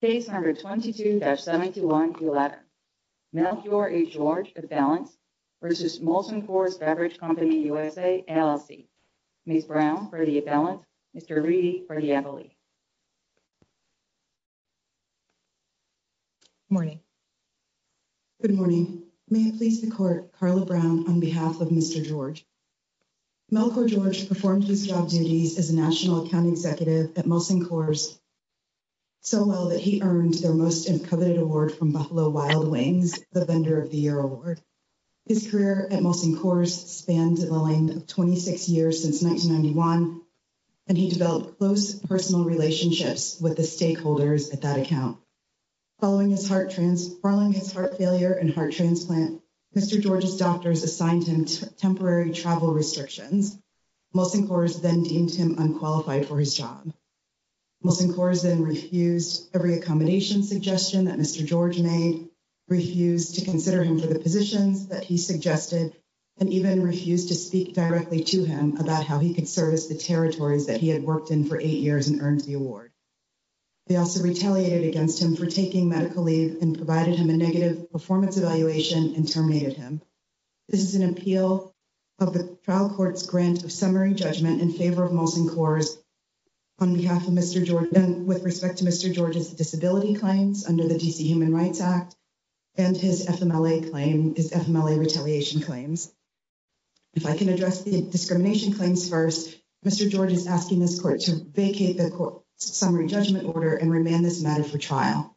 Case number 22-71-11 Melchior H. George, appellant versus Molson Coors Beverage Company USA, LLC. Ms. Brown for the appellant, Mr. Reedy for the appellee. Good morning. Good morning. May it please the court, Carla Brown on behalf of Mr. George. Melchior George performed his job duties as a national account executive at Molson Coors so well that he earned their most coveted award from Buffalo Wild Wings, the Vendor of the Year Award. His career at Molson Coors spanned the length of 26 years since 1991, and he developed close personal relationships with the stakeholders at that account. Following his heart failure and heart transplant, Mr. George's doctors assigned him temporary travel restrictions. Molson Coors then deemed him unqualified for his job. Molson Coors then refused every accommodation suggestion that Mr. George made, refused to consider him for the positions that he suggested, and even refused to speak directly to him about how he could service the territories that he had worked in for eight years and earned the award. They also retaliated against him for taking medical leave and provided him a negative performance evaluation and terminated him. This is an appeal of the trial court's grant of summary judgment in favor of Molson Coors on behalf of Mr. George, and with respect to Mr. George's disability claims under the D.C. Human Rights Act and his FMLA claim, his FMLA retaliation claims. If I can address the discrimination claims first, Mr. George is asking this court to vacate the court's summary judgment order and remand this matter for trial.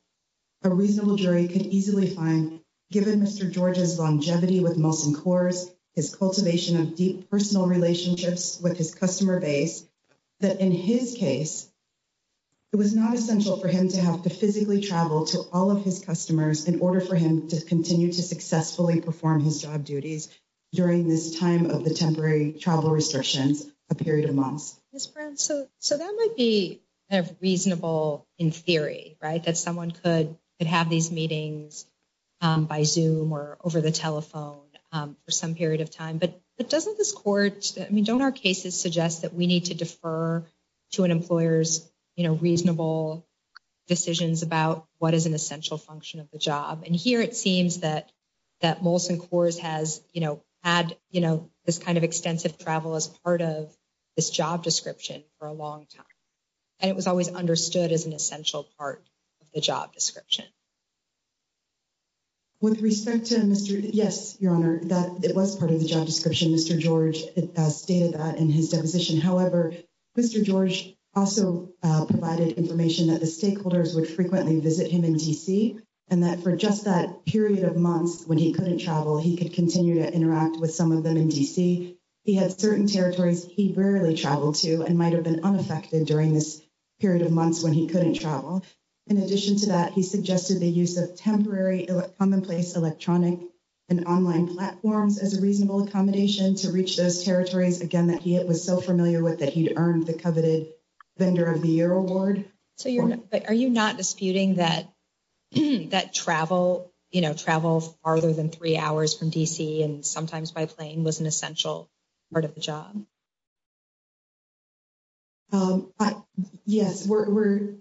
A reasonable jury could easily find, given Mr. George's longevity with Molson Coors, his cultivation of deep personal relationships with his customer base, that in his case, it was not essential for him to have to physically travel to all of his customers in order for him to continue to successfully perform his job duties during this time of the temporary travel restrictions, a period of months. Ms. Brown, so that might be reasonable in theory, right, that someone could have these meetings by Zoom or over the telephone for some period of time, but doesn't this court, I mean, don't our cases suggest that we need to defer to an employer's reasonable decisions about what is an essential function of the job? And here it seems that Molson Coors has, you know, had, you know, this kind of extensive travel as part of this job description for a long time, and it was always understood as an essential part of the job description. With respect to Mr., yes, Your Honor, that it was part of the job description, Mr. George stated that in his deposition, however, Mr. George also provided information that the stakeholders would frequently visit him in D.C. and that for just that period of months when he couldn't travel, he could continue to interact with some of them in D.C. He had certain territories he rarely traveled to and might have been unaffected during this period of months when he couldn't travel. In addition to that, he suggested the use of temporary commonplace electronic and online platforms as a reasonable accommodation to reach those territories, again, that he was so familiar with that he'd earned the coveted Vendor of the Year Award. So are you not disputing that travel, you know, travel farther than three hours from the essential part of the job? Yes, we're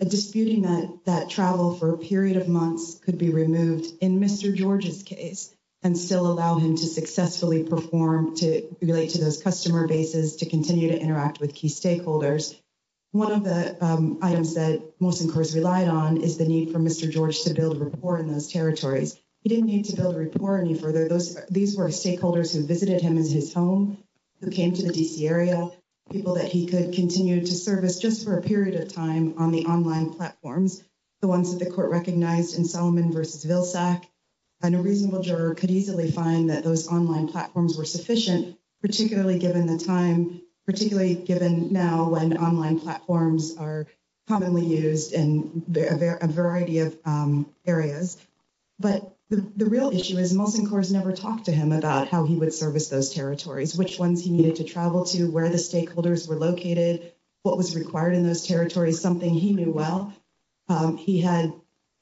disputing that travel for a period of months could be removed in Mr. George's case and still allow him to successfully perform to relate to those customer bases, to continue to interact with key stakeholders. One of the items that most inquirers relied on is the need for Mr. George to build rapport in those territories. He didn't need to build a rapport any further. These were stakeholders who visited him as his home, who came to the D.C. area, people that he could continue to service just for a period of time on the online platforms, the ones that the court recognized in Solomon v. Vilsack, and a reasonable juror could easily find that those online platforms were sufficient, particularly given the time, particularly given now when online platforms are commonly used in a variety of areas. But the real issue is most inquirers never talked to him about how he would service those territories, which ones he needed to travel to, where the stakeholders were located, what was required in those territories, something he knew well. He had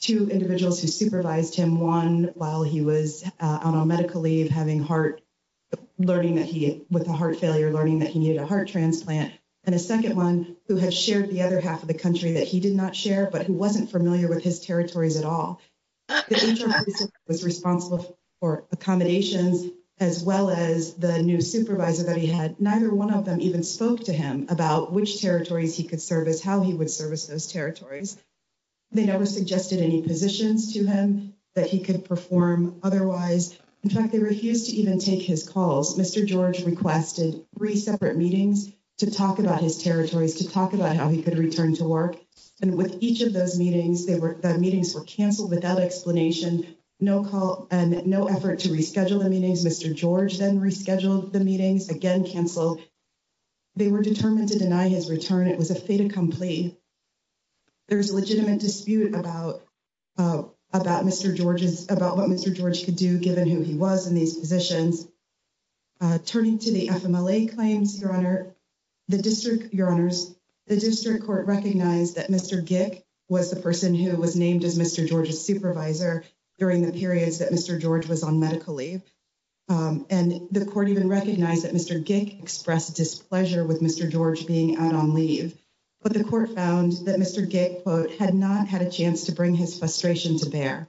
two individuals who supervised him, one while he was on medical leave having heart learning that he, with a heart failure, learning that he needed a heart transplant, and a second one who had shared the other half of the country that he did not share but who wasn't familiar with his territories at all. The interviewee was responsible for accommodations as well as the new supervisor that he had. Neither one of them even spoke to him about which territories he could service, how he would service those territories. They never suggested any positions to him that he could perform otherwise. In fact, they refused to even take his calls. Mr. George requested three separate meetings to talk about his territories, to talk about how he could return to work. And with each of those meetings, the meetings were canceled without explanation, no call and no effort to reschedule the meetings. Mr. George then rescheduled the meetings, again canceled. They were determined to deny his return. It was a fait accompli. There's a legitimate dispute about what Mr. George could do given who he was in these positions. Turning to the FMLA claims, Your Honor, the district, Your Honors, the district court recognized that Mr. Gick was the person who was named as Mr. George's supervisor during the periods that Mr. George was on medical leave. And the court even recognized that Mr. Gick expressed displeasure with Mr. George being out on leave. But the court found that Mr. Gick, quote, had not had a chance to bring his frustration to bear.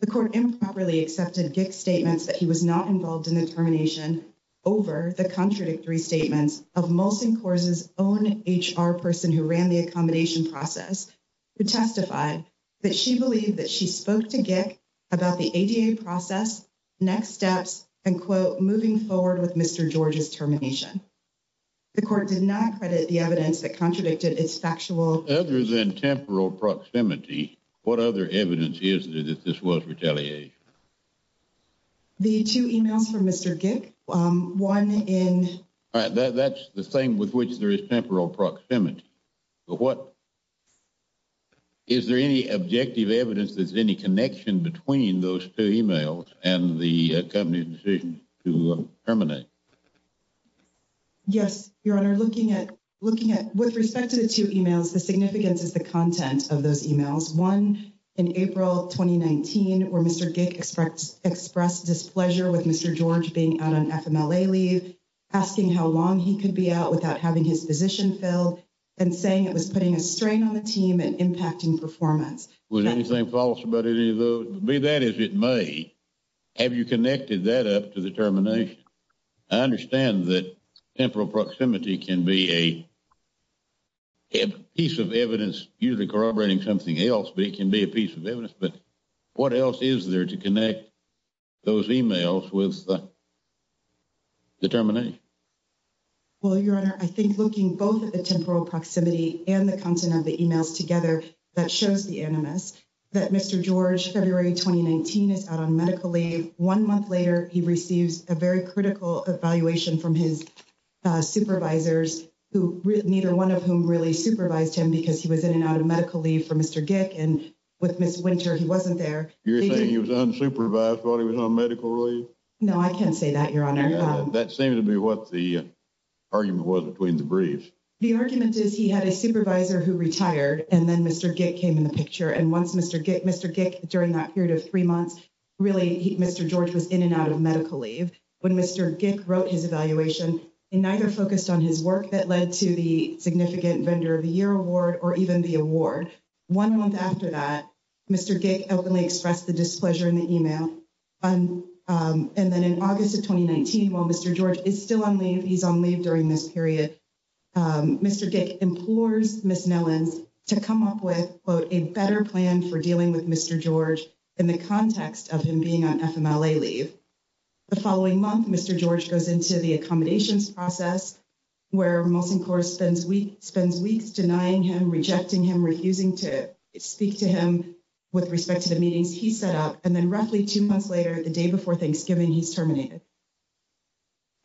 The court improperly accepted Gick's statements that he was not involved in the termination over the contradictory statements of Molson Coors' own HR person who ran the accommodation process, who testified that she believed that she spoke to Gick about the ADA process, next steps, and, quote, moving forward with Mr. George's termination. The court did not credit the evidence that contradicted its factual. Other than temporal proximity, what other evidence is there that this was retaliation? The two emails from Mr. Gick, one in. That's the same with which there is temporal proximity, but what, is there any objective evidence that there's any connection between those two emails and the company's decision to terminate? Yes, Your Honor, looking at, looking at, with respect to the two emails, the significance is the content of those emails. One, in April 2019, where Mr. Gick expressed displeasure with Mr. George being out on FMLA leave, asking how long he could be out without having his position filled, and saying it was putting a strain on the team and impacting performance. Was anything false about any of those? Be that as it may, have you connected that up to the termination? I understand that temporal proximity can be a piece of evidence usually corroborating something else, but it can be a piece of evidence. But what else is there to connect those emails with the termination? Well, Your Honor, I think looking both at the temporal proximity and the content of the emails together, that shows the animus. That Mr. George, February 2019, is out on medical leave. One month later, he receives a very critical evaluation from his supervisors, who, neither one of whom really supervised him because he was in and out of medical leave for Mr. Gick. And with Ms. Winter, he wasn't there. You're saying he was unsupervised while he was on medical leave? No, I can't say that, Your Honor. That seemed to be what the argument was between the briefs. The argument is he had a supervisor who retired, and then Mr. Gick came in the picture. And once Mr. Gick, during that period of three months, really, Mr. George was in and out of medical leave. When Mr. Gick wrote his evaluation, he neither focused on his work that led to the Significant Vendor of the Year Award or even the award. One month after that, Mr. Gick openly expressed the displeasure in the email. And then in August of 2019, while Mr. George is still on leave, he's on leave during this with Mr. George in the context of him being on FMLA leave. The following month, Mr. George goes into the accommodations process where Molson Corp spends weeks denying him, rejecting him, refusing to speak to him with respect to the meetings he set up. And then roughly two months later, the day before Thanksgiving, he's terminated.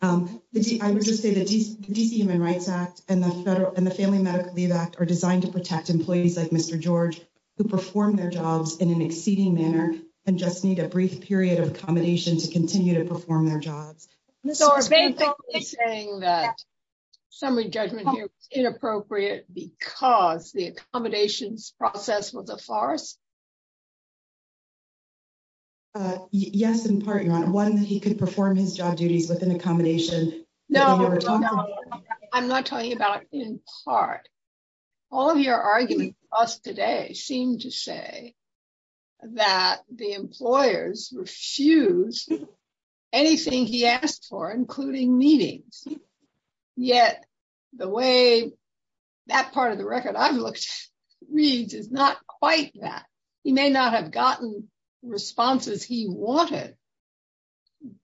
I would just say the DC Human Rights Act and the Family Medical Leave Act are designed to protect employees like Mr. George who perform their jobs in an exceeding manner and just need a brief period of accommodation to continue to perform their jobs. So are you saying that summary judgment here is inappropriate because the accommodations process was a farce? Yes, in part, Your Honor. One, he could perform his job duties with an accommodation. No, I'm not talking about in part. All of your arguments to us today seem to say that the employers refuse anything he asked for, including meetings. Yet the way that part of the record I've looked reads is not quite that. He may not have gotten responses he wanted,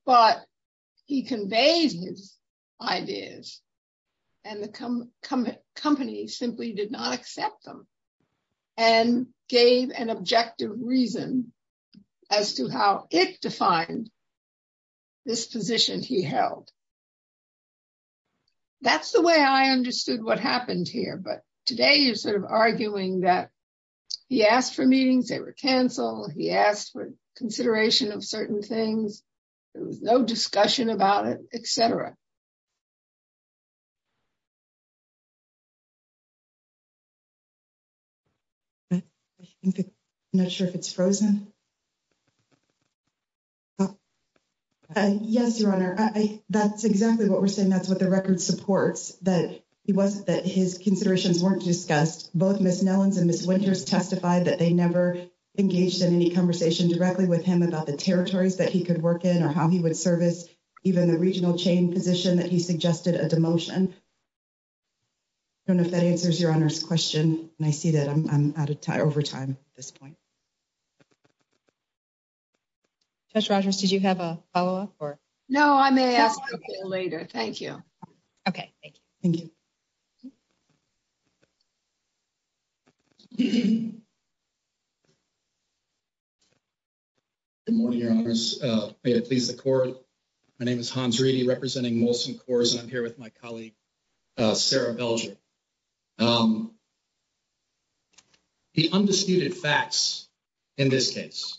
but he conveys his ideas. And the company simply did not accept them and gave an objective reason as to how it defined this position he held. That's the way I understood what happened here. But today you're sort of arguing that he asked for meetings, they were canceled. He asked for consideration of certain things. There was no discussion about it, et cetera. I'm not sure if it's frozen. Yes, Your Honor, that's exactly what we're saying. That's what the record supports, that it wasn't that his considerations weren't discussed. Both Ms. Nellens and Ms. Winters testified that they never engaged in any conversation directly with him about the territories that he could work in or how he would service even the regional chain position that he suggested a demotion. I don't know if that answers Your Honor's question. And I see that I'm out of time, over time at this point. Judge Rogers, did you have a follow-up or? No, I may ask that later. Thank you. Okay, thank you. Good morning, Your Honors. May it please the Court. My name is Hans Reedy, representing Molson Coors, and I'm here with my colleague, Sarah Belger. The undisputed facts in this case,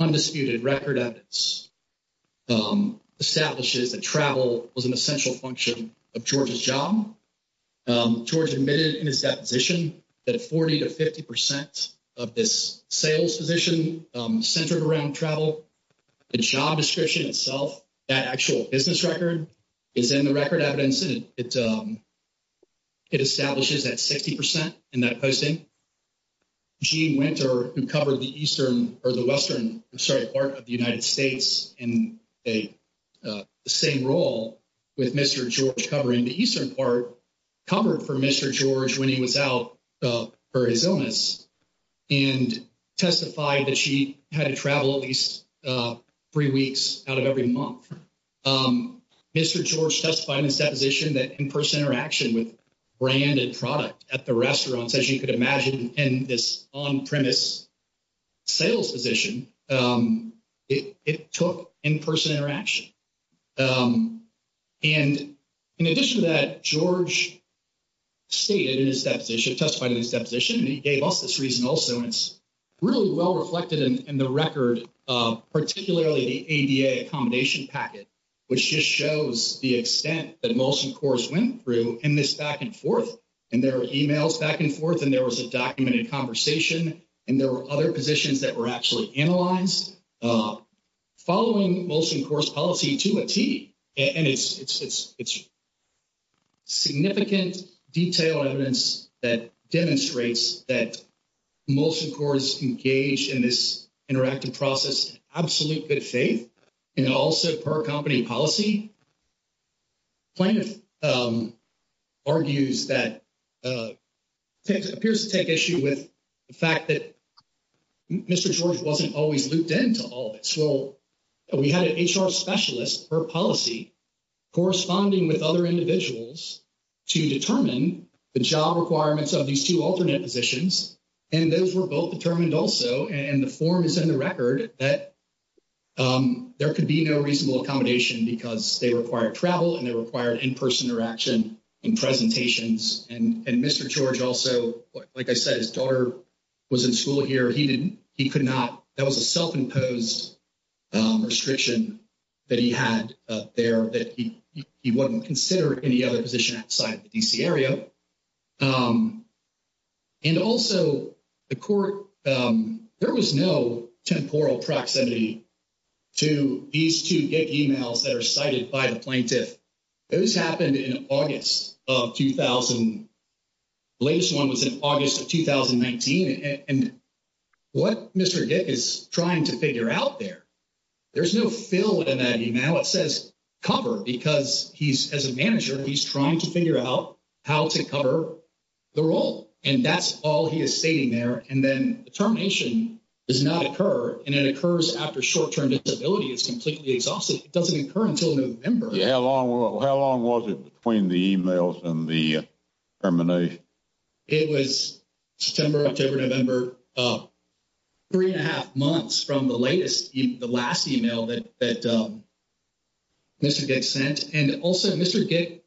undisputed record evidence, establishes that travel was an essential function of George's job. George admitted in his deposition that 40 to 50 percent of this sales position centered around travel. The job description itself, that actual business record, is in the record evidence. It establishes that 60 percent in that posting. Jean Winter, who covered the eastern, or the western, I'm sorry, part of the United States in the same role with Mr. George covering the eastern part, covered for Mr. George when he was out for his illness and testified that she had to travel at least three weeks out of every month. Mr. George testified in his deposition that in-person interaction with brand and product at the restaurants, as you could imagine in this on-premise sales position, it took in-person interaction. And in addition to that, George stated in his deposition, testified in his deposition, and he gave us this reason also, and it's really well reflected in the record, particularly the ADA accommodation packet, which just shows the extent that Molson Coors went through in this back and forth. And there were emails back and forth, and there was a documented conversation, and there were other positions that were actually analyzed. Following Molson Coors' policy to a T, and it's significant detailed evidence that demonstrates that Molson Coors engaged in this interactive process in absolute good faith, and also per company policy, plaintiff argues that, appears to take issue with the fact that Mr. George wasn't always looped into all of this. Well, we had an HR specialist per policy corresponding with other individuals to determine the job requirements of these two alternate positions, and those were both determined also, and the form is in the record, that there could be no reasonable accommodation because they required travel, and they required in-person interaction and presentations. And Mr. George, as I said, his daughter was in school here. He could not, that was a self-imposed restriction that he had there that he wouldn't consider any other position outside the D.C. area. And also, the court, there was no temporal proximity to these two gig emails that are of 2000. The latest one was in August of 2019, and what Mr. Dick is trying to figure out there, there's no fill in that email. It says cover because he's, as a manager, he's trying to figure out how to cover the role, and that's all he is stating there, and then the termination does not occur, and it occurs after short-term disability. It's completely exhausted. It doesn't occur until November. Yeah, how long was it between the emails and the termination? It was September, October, November, three and a half months from the latest, the last email that Mr. Dick sent, and also Mr. Dick,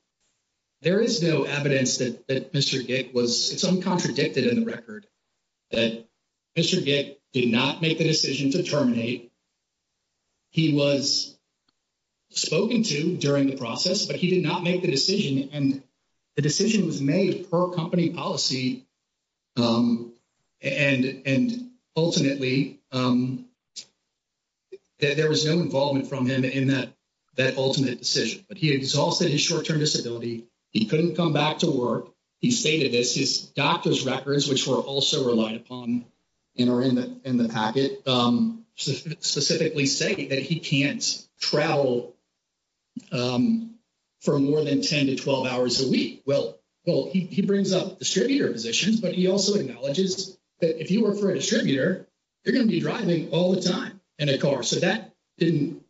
there is no evidence that Mr. Dick was, it's uncontradicted in the record that Mr. Dick did not make the decision to terminate. He was spoken to during the process, but he did not make the decision, and the decision was made per company policy, and ultimately, there was no involvement from him in that, that ultimate decision, but he exhausted his short-term disability. He couldn't come back to work. He stated this, doctor's records, which were also relied upon in the packet, specifically say that he can't travel for more than 10 to 12 hours a week. Well, he brings up distributor positions, but he also acknowledges that if you work for a distributor, you're going to be driving all the time in a car, so that didn't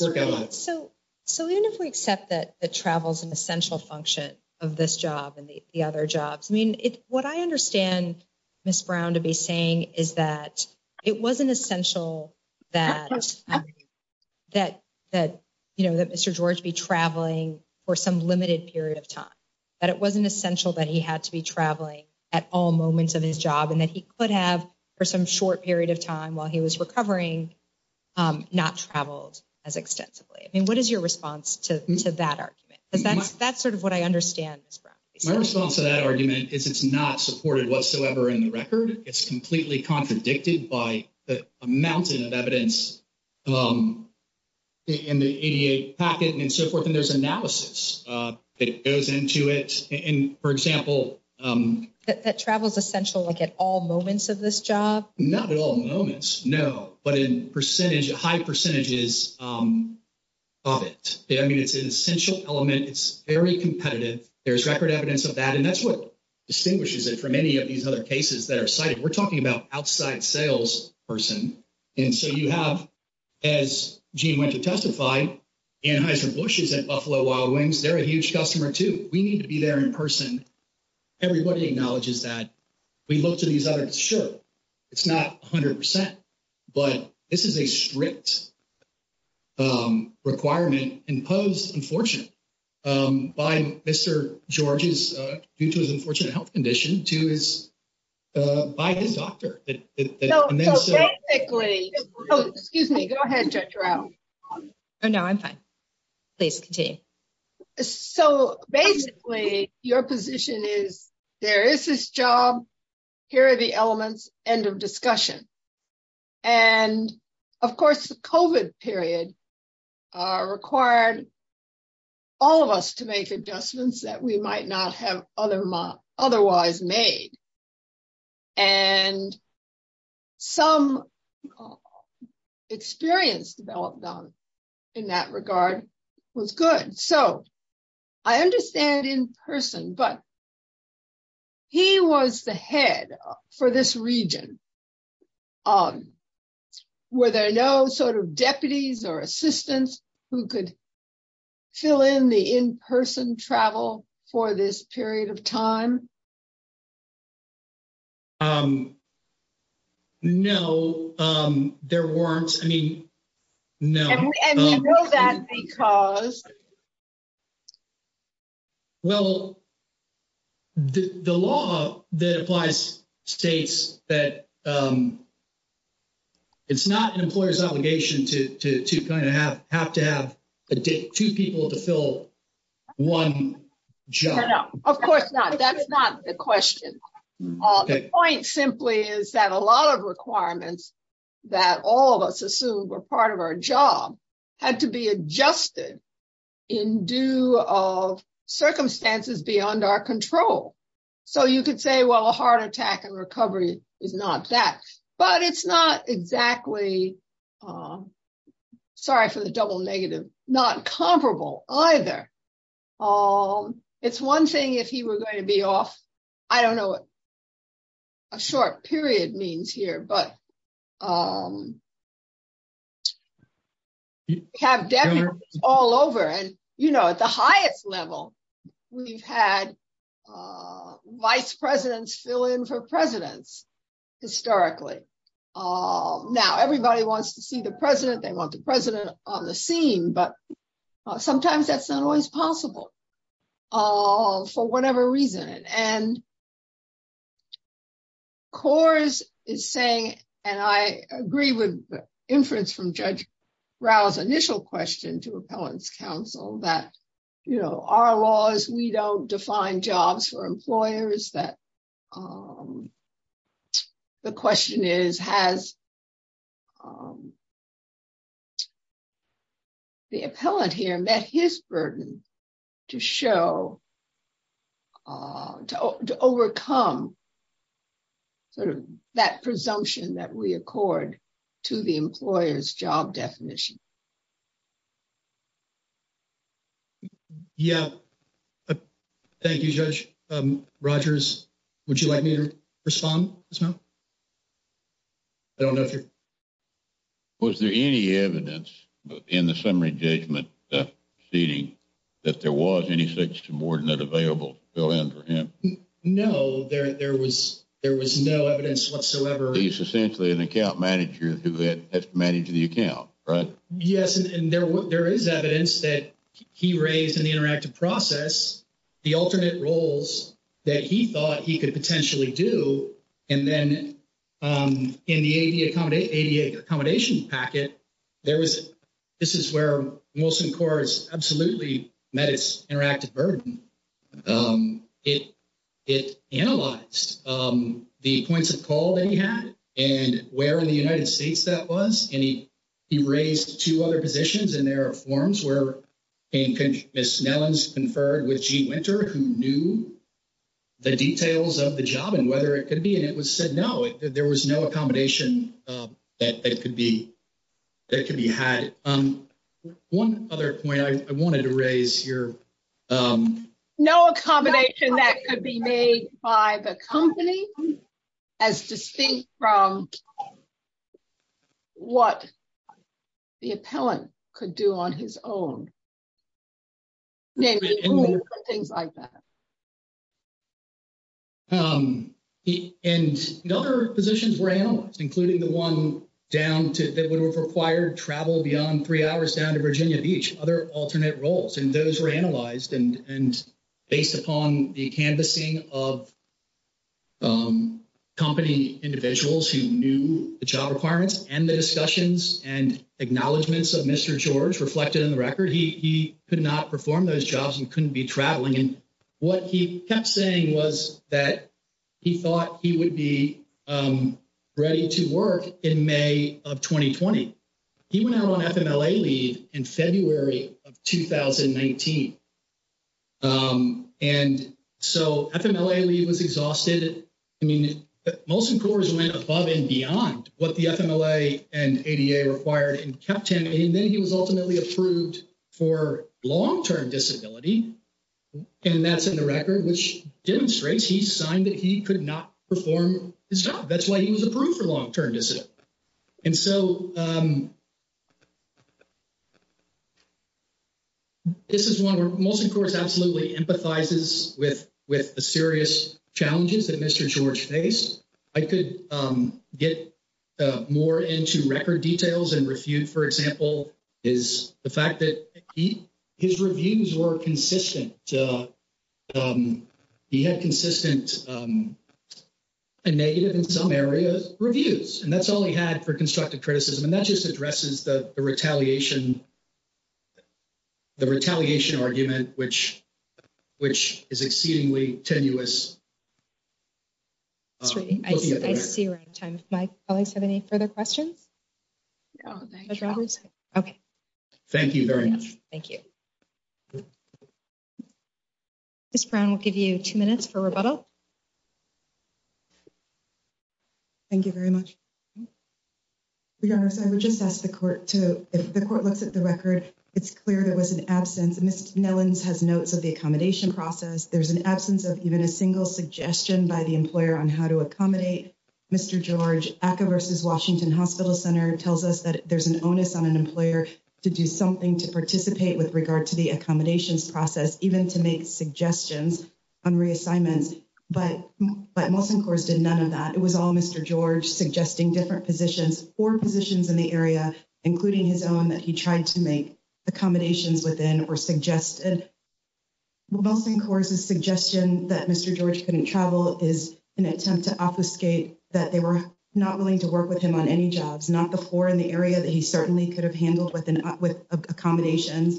work out. So, even if we accept that travel is an essential function of this job and the other jobs, I mean, what I understand Ms. Brown to be saying is that it wasn't essential that Mr. George be traveling for some limited period of time, that it wasn't essential that he had to be traveling at all moments of his job, and that he could have, for some short period of time while he was recovering, not traveled as extensively. I mean, what is your response to that argument? Because that's sort of what I understand Ms. Brown to be saying. My response to that argument is it's not supported whatsoever in the record. It's completely contradicted by the amount of evidence in the ADA packet and so forth, and there's analysis that goes into it. And for example, that travel is essential like at all moments of this job? Not at all moments, no, but in percentage, high percentages of it. I mean, it's an essential element. It's very competitive. There's record evidence of that, and that's what distinguishes it from any of these other cases that are cited. We're talking about outside sales person, and so you have, as Gene went to testify, Anheuser-Busch is at Buffalo Wild Wings. They're a huge customer too. We need to be there in person. Everybody acknowledges that. We look these other, sure, it's not 100%, but this is a strict requirement imposed, unfortunate, by Mr. George's, due to his unfortunate health condition, to his, by his doctor. Excuse me. Go ahead, Judge Rowe. Oh, no, I'm fine. Please continue. So basically, your position is, there is this job, here are the elements, end of discussion. And of course, the COVID period required all of us to make adjustments that we might not have otherwise made. And some experience developed in that regard was good. So I understand in person, but he was the head for this region. Were there no sort of deputies or assistants who could fill in the in-person travel for this period of time? No, there weren't. I mean, no. And we know that because? Well, the law that applies states that it's not an employer's obligation to kind of have, to have two people to fill one job. No, of course not. That's not the question. The point simply is that a lot of requirements that all of us assumed were part of our job had to be adjusted in due of circumstances beyond our control. So you could say, well, heart attack and recovery is not that. But it's not exactly, sorry for the double negative, not comparable either. It's one thing if he were going to be off, I don't know what a short period means here, but have deputies all over. And, you know, at the highest level, we've had vice presidents fill in for presidents historically. Now everybody wants to see the president, they want the president on the scene, but sometimes that's not always possible for whatever reason. And Coors is saying, and I agree with the inference from Judge that, you know, our laws, we don't define jobs for employers that the question is, has the appellate here met his burden to show, to overcome sort of that presumption that we accord to the employer's job definition. Yeah. Thank you, Judge. Rogers, would you like me to respond? I don't know if you're. Was there any evidence in the summary judgment seating that there was any such subordinate available to fill in for him? No, there was no evidence whatsoever. He's essentially an account manager who has to manage the account, right? Yes. And there is evidence that he raised in the interactive process, the alternate roles that he thought he could potentially do. And then in the ADA accommodation packet, this is where Wilson Coors absolutely met its interactive burden. It analyzed the points of and he raised two other positions and there are forms where Ms. Nellens conferred with Gene Winter who knew the details of the job and whether it could be, and it was said, no, there was no accommodation that could be had. One other point I wanted to raise here. No accommodation that could be made by the company as distinct from what the appellant could do on his own. Things like that. And the other positions were analyzed, including the one down to that would have required travel beyond three hours down to Virginia Beach, other alternate roles. And those were analyzed and based upon the canvassing of company individuals who knew the job requirements and the discussions and acknowledgments of Mr. George reflected in the record, he could not perform those jobs and couldn't be traveling. And what he kept saying was that he thought he would be of 2019. And so FMLA leave was exhausted. I mean, most employers went above and beyond what the FMLA and ADA required and kept him. And then he was ultimately approved for long-term disability. And that's in the record, which demonstrates he signed that he could not perform his job. That's why he was approved for long-term disability. And so, this is one where Molson Courts absolutely empathizes with the serious challenges that Mr. George faced. I could get more into record details and refute, for example, is the fact that his reviews were consistent. He had consistent and negative in some areas reviews. And that's all he had for constructive criticism. And that just addresses the retaliation argument, which is exceedingly tenuous. That's great. I see we're out of time. If my colleagues have any further questions? No, thank you. Okay. Thank you very much. Thank you. Ms. Brown will give you two minutes for rebuttal. Thank you very much. Your Honor, I would just ask the court to, if the court looks at the record, it's clear there was an absence. Ms. Nellens has notes of the accommodation process. There's an absence of even a single suggestion by the employer on how to accommodate Mr. George. ACCA versus Washington Hospital Center tells us that there's an onus on an employer to do something to participate with regard to the accommodations process, even to make suggestions on reassignments. But Molson Courts did none of that. It was all Mr. George suggesting different four positions in the area, including his own, that he tried to make accommodations within or suggested. Molson Courts' suggestion that Mr. George couldn't travel is an attempt to obfuscate that they were not willing to work with him on any jobs, not the four in the area that he certainly could have handled with accommodations,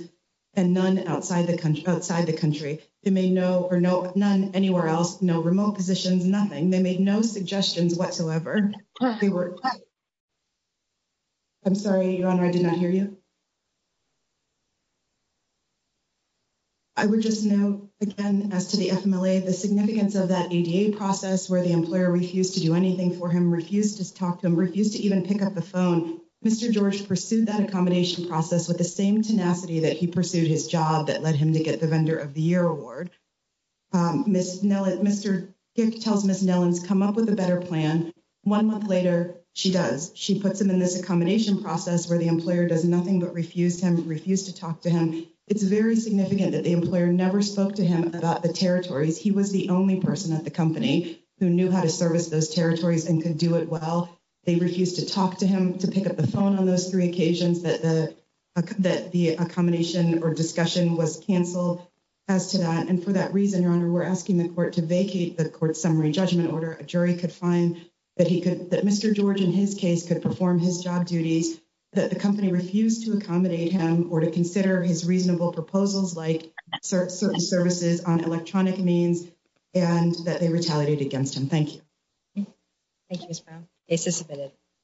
and none outside the country. They made no, or none anywhere else, no remote positions, nothing. They made no suggestions whatsoever. I'm sorry, Your Honor, I did not hear you. I would just note, again, as to the FMLA, the significance of that ADA process where the employer refused to do anything for him, refused to talk to him, refused to even pick up the phone. Mr. George pursued that accommodation process with the same tenacity that he pursued his job that led him to get the Vendor of the Year Award. Mr. Dick tells Ms. Nellens, come up with a better plan. One month later, she does. She puts him in this accommodation process where the employer does nothing but refuse him, refuse to talk to him. It's very significant that the employer never spoke to him about the territories. He was the only person at the company who knew how to service those territories and could do it well. They refused to talk to him, to pick up the phone on those three occasions that the accommodation or discussion was canceled. As to that, and for that reason, Your Honor, we're asking the court to vacate the court's summary judgment order. A jury could find that Mr. George, in his case, could perform his job duties, that the company refused to accommodate him or to consider his reasonable proposals like certain services on electronic means and that they retaliated against him. Thank you. Thank you, Ms. Brown. Case is submitted.